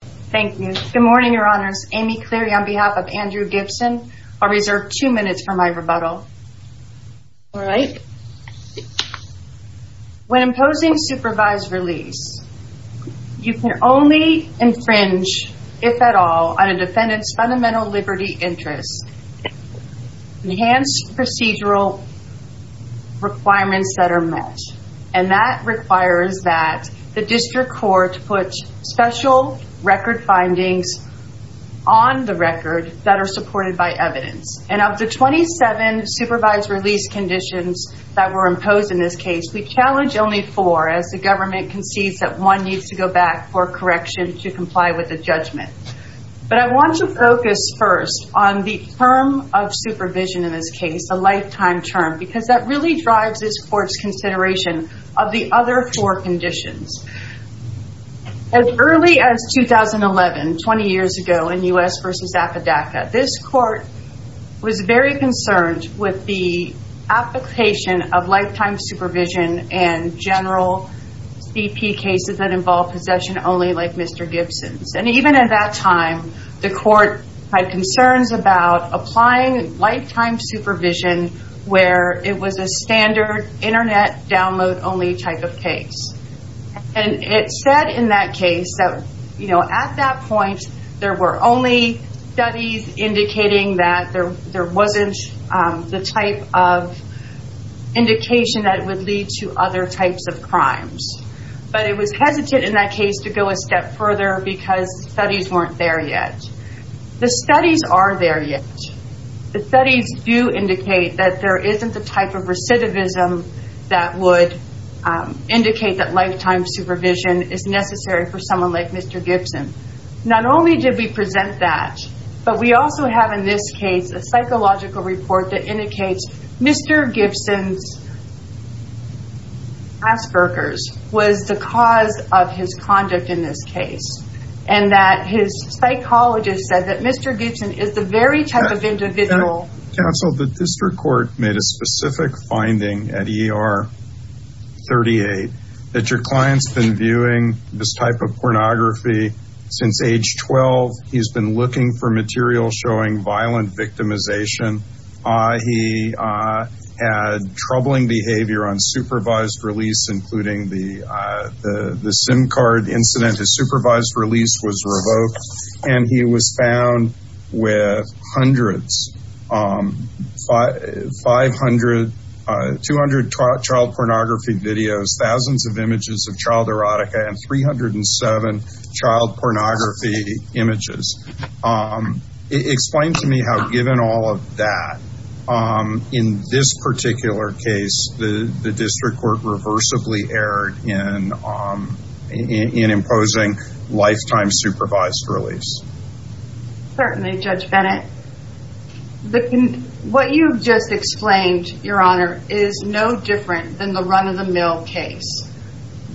When imposing supervised release, you can only infringe, if at all, on a defendant's fundamental liberty interests, enhanced procedural requirements that are met, and that requires that the district court put special record findings on the record that are supported by evidence. And of the 27 supervised release conditions that were imposed in this case, we challenge only four, as the government concedes that one needs to go back for correction to comply with the judgment. But I want to focus first on the term of supervision in this case, the lifetime term, because that really drives this court's consideration of the other four conditions. As early as 2011, 20 years ago in U.S. v. Apodaca, this court was very concerned with the application of lifetime supervision in general BP cases that involve possession only, like Mr. Gibson's. And even at that time, the court had concerns about applying lifetime supervision where it was a standard internet download only type of case. And it said in that case that at that point, there were only studies indicating that there wasn't the type of indication that it would lead to other types of crimes. But it was hesitant in that case to go a step further because studies weren't there yet. The studies are there yet. The studies do indicate that there isn't the type of recidivism that would indicate that lifetime supervision is necessary for someone like Mr. Gibson. Not only did we present that, but we also have in this case a psychological report that indicates Mr. Gibson's Asperger's was the cause of his conduct in this case. And that his psychologist said that Mr. Gibson is the very type of individual... Counsel, the district court made a specific finding at ER 38 that your client's been viewing this type of pornography since age 12. He's been looking for material showing violent victimization. He had troubling behavior on supervised release, including the SIM card incident. His supervised release was revoked. And he was found with hundreds, 500, 200 child pornography videos, thousands of images of child erotica, and 307 child pornography images. Explain to me how given all of that, in this particular case, the district court reversibly erred in imposing lifetime supervised release. Certainly, Judge Bennett. What you've just explained, Your Honor, is no different than the run of the mill case.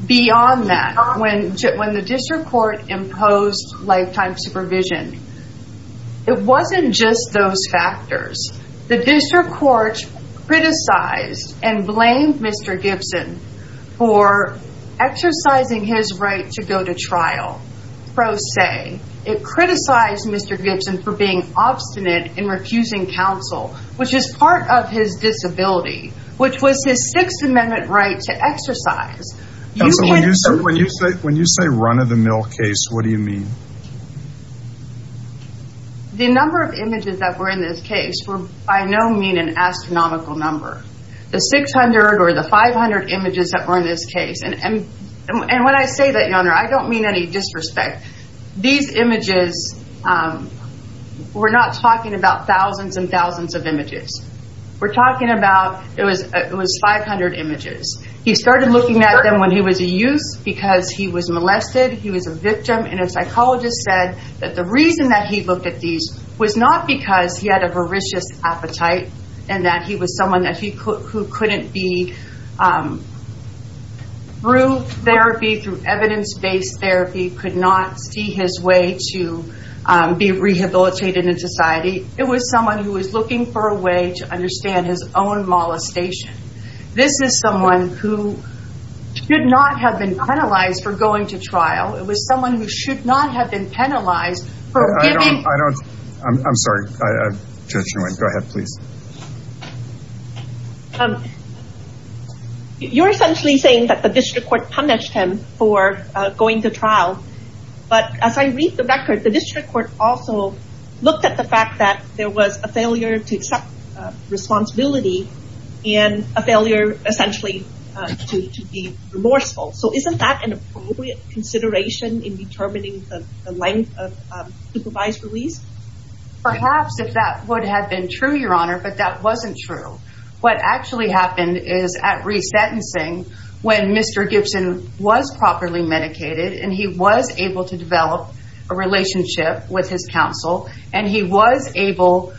Beyond that, when the district court imposed lifetime supervision, it wasn't just those factors. The district court criticized and blamed Mr. Gibson for exercising his right to go to trial, pro se. It criticized Mr. Gibson for being obstinate in refusing counsel, which is part of his disability, which was his Sixth Amendment right to exercise. Counsel, when you say run of the mill case, what do you mean? The number of images that were in this case were by no mean an astronomical number. The 600 or the 500 images that were in this case, and when I say that, Your Honor, I don't mean any disrespect. These images, we're not talking about thousands and thousands of images. We're talking about, it was 500 images. He started looking at them when he was a youth because he was molested, he was a psychologist, said that the reason that he looked at these was not because he had a voracious appetite and that he was someone who couldn't be, through therapy, through evidence-based therapy, could not see his way to be rehabilitated in society. It was someone who was looking for a way to understand his own molestation. This is someone who should not have been penalized for going to trial. It was someone who should not have been penalized. I'm sorry. Go ahead, please. You're essentially saying that the district court punished him for going to trial, but as I read the record, the district court also looked at the fact that there was a failure to accept responsibility and a failure, essentially, to be remorseful. So isn't that an appropriate consideration in the length of supervised release? Perhaps, if that would have been true, Your Honor, but that wasn't true. What actually happened is at resentencing, when Mr. Gibson was properly medicated and he was able to develop a relationship with his counsel and he was able,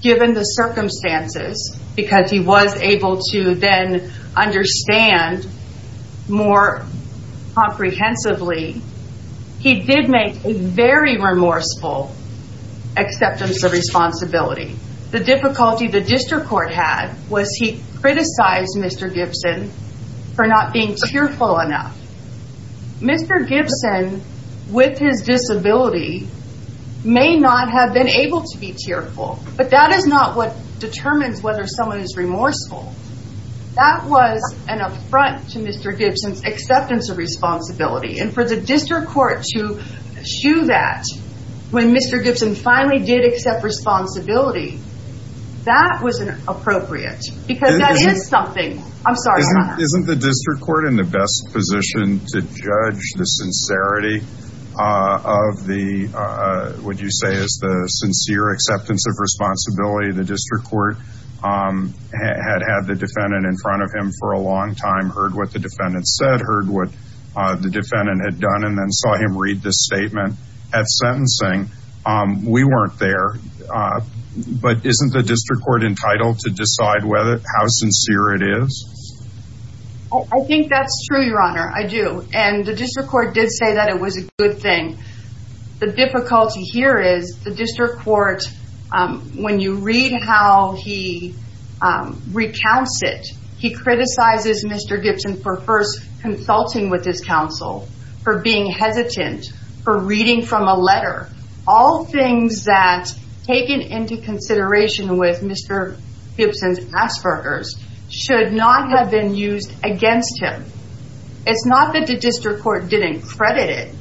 given the circumstances, because he was able to then understand more comprehensively, he did make a very remorseful acceptance of responsibility. The difficulty the district court had was he criticized Mr. Gibson for not being tearful enough. Mr. Gibson, with his disability, may not have been able to be tearful, but that is not what determines whether someone is remorseful. That was an affront to Mr. Gibson's acceptance of responsibility, and for the district court to eschew that when Mr. Gibson finally did accept responsibility, that wasn't appropriate because that is something. I'm sorry, Your Honor. Isn't the district court in the best position to judge the sincerity of the, would you say, is the sincere acceptance of responsibility? The district court had had the defendant in front of him for a long time, heard what the defendant said, heard what the defendant had done, and then saw him read the statement at sentencing. We weren't there, but isn't the district court entitled to decide how sincere it is? I think that's true, Your Honor, I do, and the district court did say that it was a good thing. The difficulty here is the district court, when you read how he recounts it, he criticizes Mr. Gibson for first consulting with his counsel, for being hesitant, for reading from a letter. All things that, taken into consideration with Mr. Gibson's past workers, should not have been used against him. It's not that the district court didn't credit it.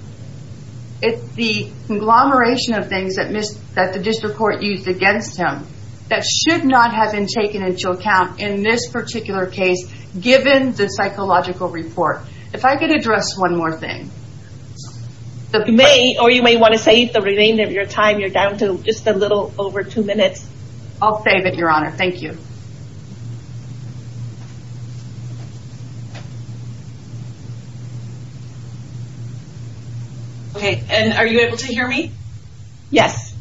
It's the conglomeration of things that the district court used against him that should not have been taken into account in this particular case, given the psychological report. If I could address one more thing. Or you may want to save the remainder of your time. You're down to just a little over two minutes. I'll save it, Your Honor. Thank you. Okay, and are you able to hear me? Yes.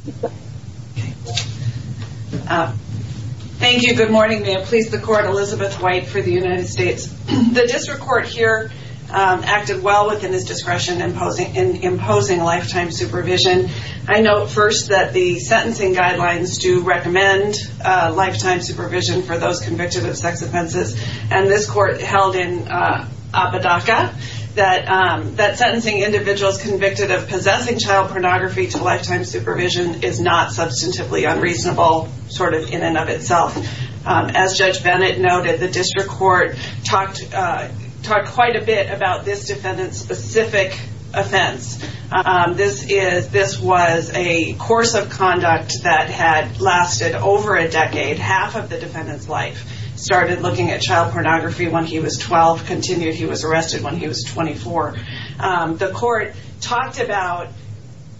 Thank you. Good morning. May it please the court, Elizabeth White for the United States. The district court here acted well within its discretion in imposing lifetime supervision. I note first that the sentencing guidelines do recommend lifetime supervision for those of sex offenses, and this court held in Apodaca that sentencing individuals convicted of possessing child pornography to lifetime supervision is not substantively unreasonable in and of itself. As Judge Bennett noted, the district court talked quite a bit about this defendant's specific offense. This was a course of conduct that had lasted over a decade, half of the defendant's started looking at child pornography when he was 12, continued he was arrested when he was 24. The court talked about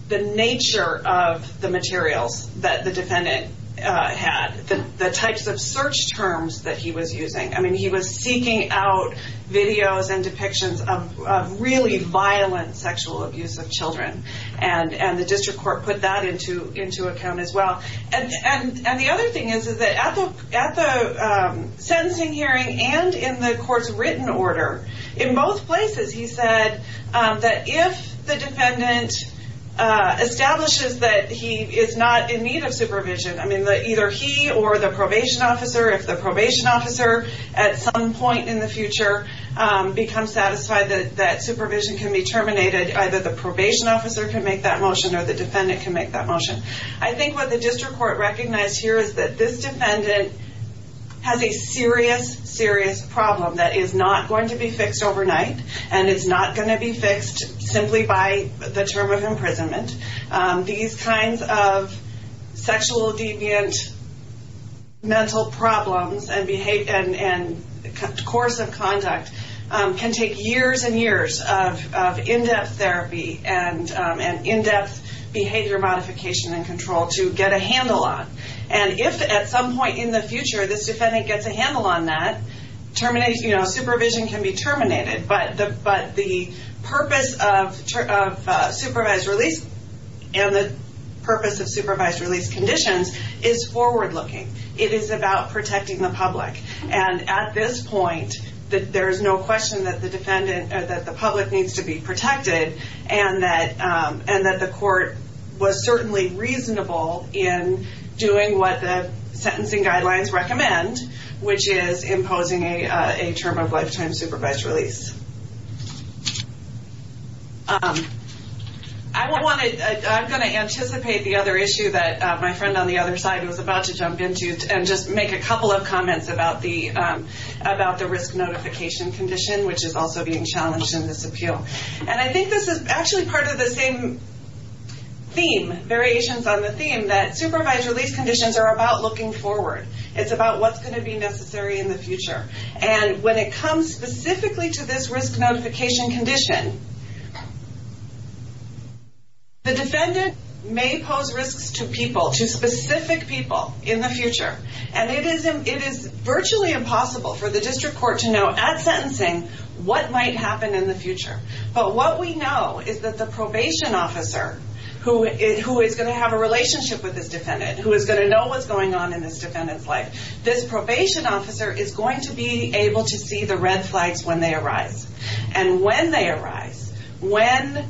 the nature of the materials that the defendant had, the types of search terms that he was using. I mean, he was seeking out videos and depictions of really violent sexual abuse of children, and the district court put that into account as well. And the other thing is that at the sentencing hearing and in the court's written order, in both places, he said that if the defendant establishes that he is not in need of supervision, I mean, either he or the probation officer, if the probation officer at some point in the future becomes satisfied that supervision can be terminated, either the probation officer can make that motion or the defendant can make that motion. I think what the district court recognized here is that this defendant has a serious, serious problem that is not going to be fixed overnight, and it's not going to be fixed simply by the term of imprisonment. These kinds of sexual deviant mental problems and course of conduct can take years and years of in-depth therapy and in-depth behavior modification and control to get a handle on. And if at some point in the future this defendant gets a handle on that, supervision can be terminated. But the purpose of supervised release and the purpose of supervised release conditions is forward-looking. It is about protecting the public. And at this point, there is no question that the defendant, that the public needs to be protected and that the court was certainly reasonable in doing what the sentencing guidelines recommend, which is imposing a term of lifetime supervised release. I'm going to anticipate the other issue that my friend on the other side was about to jump into and just make a couple of comments about the risk notification condition, which is also being challenged in this appeal. And I think this is actually part of the same theme, variations on the theme, that supervised release conditions are about looking forward. It's about what's going to be necessary in the future. And when it comes specifically to this risk notification condition, the defendant may pose risks to people, to specific people in the future. And it is virtually impossible for the district court to know at sentencing what might happen in the future. But what we know is that the probation officer, who is going to have a relationship with this defendant, who is going to know what's going on in this defendant's life, this probation officer is going to be able to see the red flags when they arise. And when they arise, when,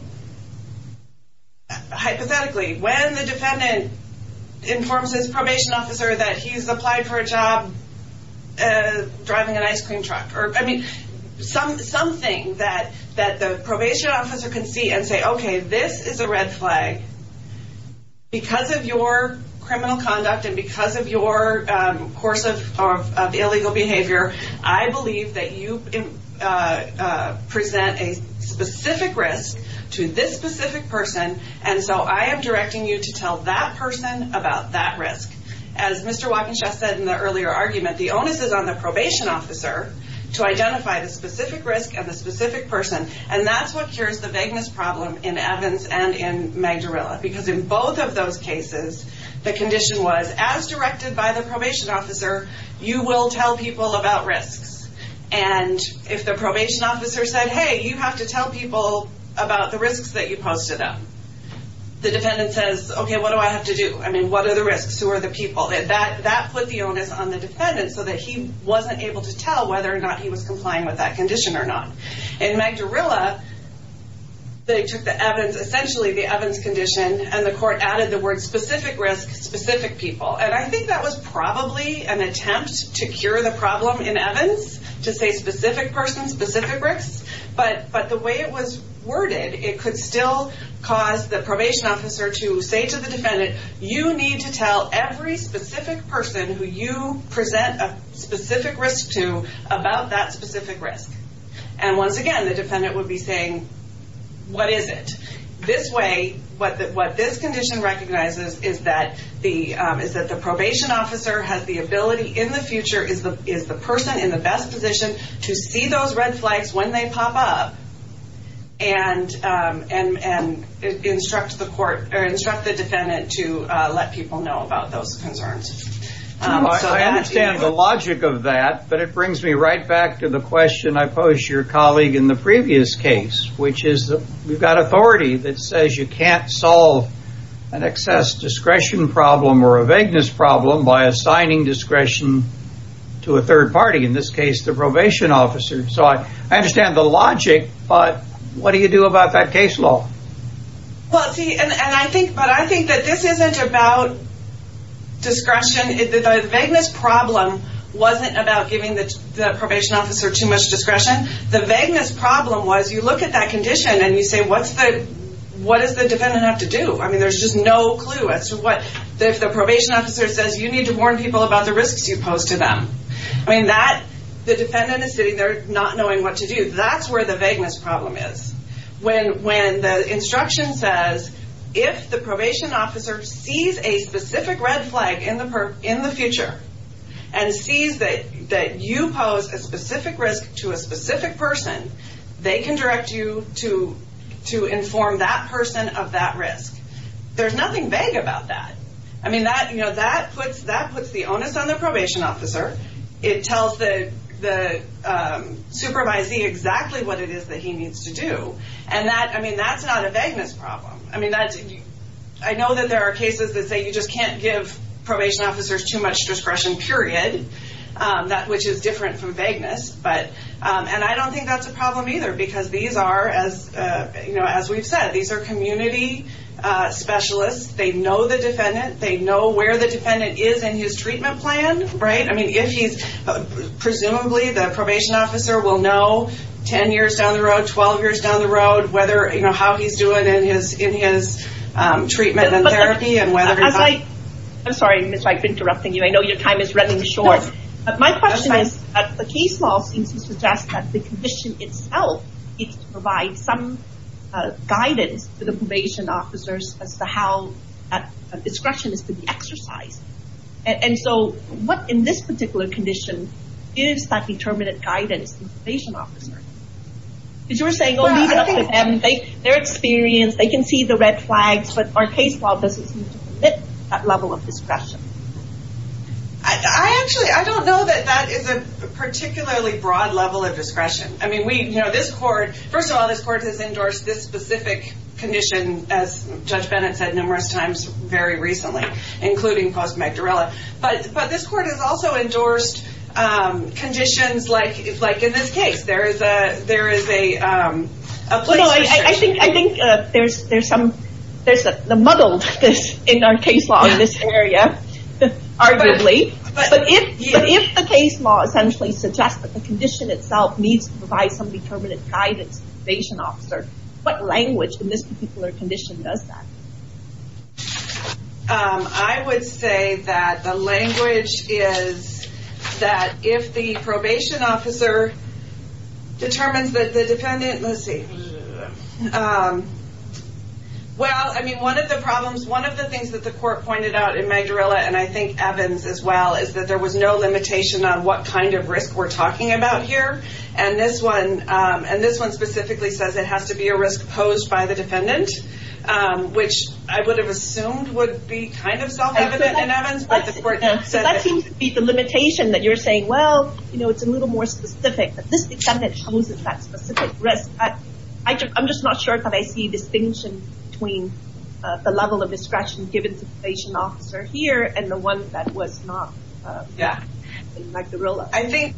hypothetically, when the defendant informs his probation officer that he's applied for a job driving an ice cream truck, I mean, something that the probation officer can see and say, okay, this is a red flag. Because of your criminal conduct and because of course of illegal behavior, I believe that you present a specific risk to this specific person. And so I am directing you to tell that person about that risk. As Mr. Wackenschaf said in the earlier argument, the onus is on the probation officer to identify the specific risk and the specific person. And that's what cures the vagueness problem in Evans and in Magdarella. Because in both of those cases, the condition was, as directed by the probation officer, you will tell people about risks. And if the probation officer said, hey, you have to tell people about the risks that you posed to them, the defendant says, okay, what do I have to do? I mean, what are the risks? Who are the people? That put the onus on the defendant so that he wasn't able to tell whether or not he was complying with that condition or not. In Magdarella, they took the Evans, essentially the Evans condition, and the court added the word specific risk, specific people. And I think that was probably an attempt to cure the problem in Evans to say specific person, specific risk. But the way it was worded, it could still cause the probation officer to say to the defendant, you need to tell every specific person who you once again, the defendant would be saying, what is it? This way, what this condition recognizes is that the probation officer has the ability in the future, is the person in the best position to see those red flags when they pop up and instruct the defendant to let people know about those concerns. I understand the logic of that, but it brings me right back to the question I in the previous case, which is that we've got authority that says you can't solve an excess discretion problem or a vagueness problem by assigning discretion to a third party, in this case, the probation officer. So I understand the logic, but what do you do about that case law? Well, see, and I think, but I think that this isn't about discretion. The vagueness problem wasn't about giving the probation officer too much discretion. The vagueness problem was you look at that condition and you say, what's the, what does the defendant have to do? I mean, there's just no clue as to what, if the probation officer says you need to warn people about the risks you pose to them. I mean that the defendant is sitting there not knowing what to do. That's where the vagueness problem is. When, when the instruction says, if the probation officer sees a specific red flag in the, in the future and sees that, that you pose a specific risk to a specific person, they can direct you to, to inform that person of that risk. There's nothing vague about that. I mean that, you know, that puts, that puts the onus on the probation officer. It tells the, the supervisee exactly what it is that he needs to do. And that, I mean, that's not a vagueness problem. I mean, that's, I know that there are cases that say you just can't give probation officers too much discretion, period. That, which is different from vagueness. But, and I don't think that's a problem either because these are as, you know, as we've said, these are community specialists. They know the defendant. They know where the defendant is in his treatment plan, right? I mean, if he's, presumably the probation officer will know 10 years down the line what he's doing in his, in his treatment and therapy and whether he's not. But as I, I'm sorry, Miss, I've been interrupting you. I know your time is running short. But my question is, the case law seems to suggest that the condition itself needs to provide some guidance to the probation officers as to how that discretion is to be exercised. And so, what in this particular condition gives that determinate guidance to the probation officer? Because you're saying, oh, leave it up to them. They're experienced. They can see the red flags. But our case law doesn't admit that level of discretion. I actually, I don't know that that is a particularly broad level of discretion. I mean, we, you know, this court, first of all, this court has endorsed this specific condition, as Judge Bennett said numerous times very recently, including Post Magdarella. But, there is a place for discretion. I think there's some, there's the muddledness in our case law in this area, arguably. But if the case law essentially suggests that the condition itself needs to provide some determinate guidance to the probation officer, what language in this particular condition does that? I would say that the language is that if the probation officer determines that the defendant, let's see. Well, I mean, one of the problems, one of the things that the court pointed out in Magdarella, and I think Evans as well, is that there was no limitation on what kind of risk we're talking about here. And this one, and this one specifically says it has to be a risk posed by the defendant, which I would have assumed would be kind of self-evident in Evans. So that seems to be the limitation that you're saying, well, you know, it's a little more specific. But this defendant chooses that specific risk. I'm just not sure that I see a distinction between the level of discretion given to the probation officer here and the one that was not in Magdarella. I think,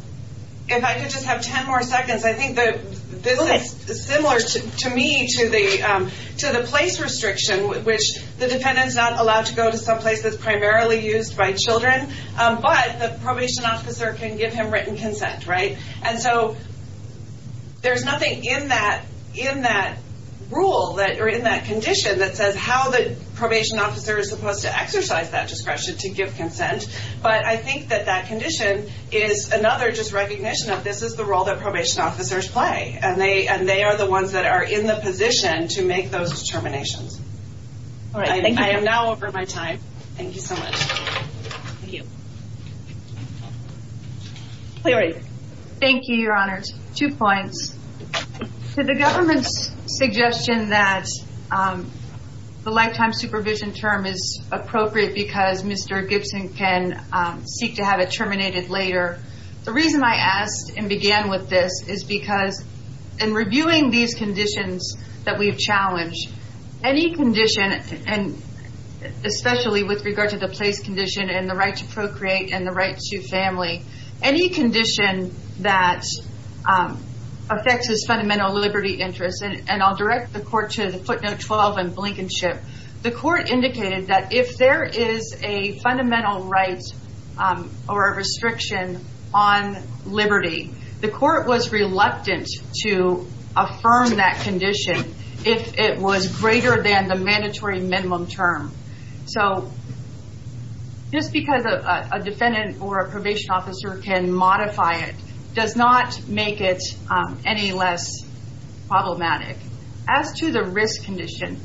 if I could just have 10 more seconds, I think that this is similar to me to the place restriction, which the defendant's not allowed to go to someplace that's primarily used by children, but the probation officer can give him written consent, right? And so there's nothing in that rule or in that condition that says how the probation officer is supposed to exercise that discretion to give consent. But I think that that condition is another just recognition of this is the role that probation officers play. And they are the position to make those determinations. All right. Thank you. I am now over my time. Thank you so much. Thank you. Cleary. Thank you, Your Honors. Two points. To the government's suggestion that the lifetime supervision term is appropriate because Mr. Gibson can seek to have it terminated later. The reason I asked and began with this is because in reviewing these conditions that we've challenged, any condition and especially with regard to the place condition and the right to procreate and the right to family, any condition that affects his fundamental liberty interest, and I'll direct the court to the footnote 12 in Blankenship, the court indicated that if there is a fundamental right or a restriction on liberty, the court was reluctant to affirm that condition if it was greater than the mandatory minimum term. So just because a defendant or a probation officer can modify it does not make it any less problematic. As to the risk condition,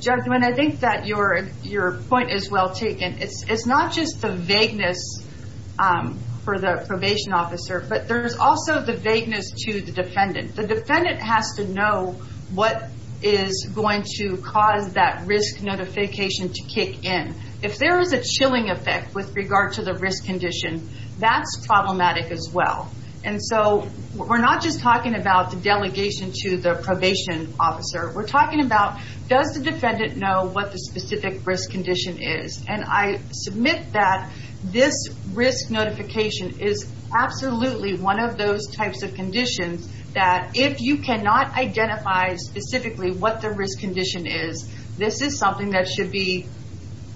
judgment, I think that your point is well taken. It's not just the vagueness for the probation officer, but there's also the vagueness to the defendant. The defendant has to know what is going to cause that risk notification to kick in. If there is a chilling effect with regard to the risk condition, that's problematic as well. And so we're not just talking about the delegation to the probation officer. We're talking about does the defendant know what the specific risk condition is? And I submit that this risk notification is absolutely one of those types of conditions that if you cannot identify specifically what the risk condition is, this is something that should be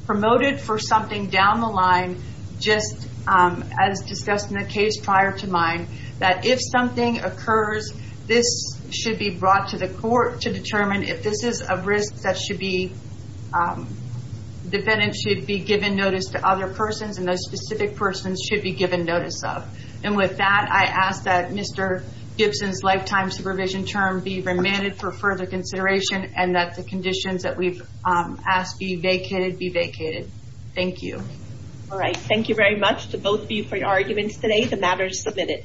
promoted for something down the line just as discussed in the case prior to mine, that if something occurs, this should be brought to the court to determine if this is a risk that the defendant should be given notice to other persons and those specific persons should be given notice of. And with that, I ask that Mr. Gibson's lifetime supervision term be remanded for further consideration and that the conditions that we've asked be vacated be vacated. Thank you. All right. Thank you very much to both of you for your arguments today. The matter is submitted.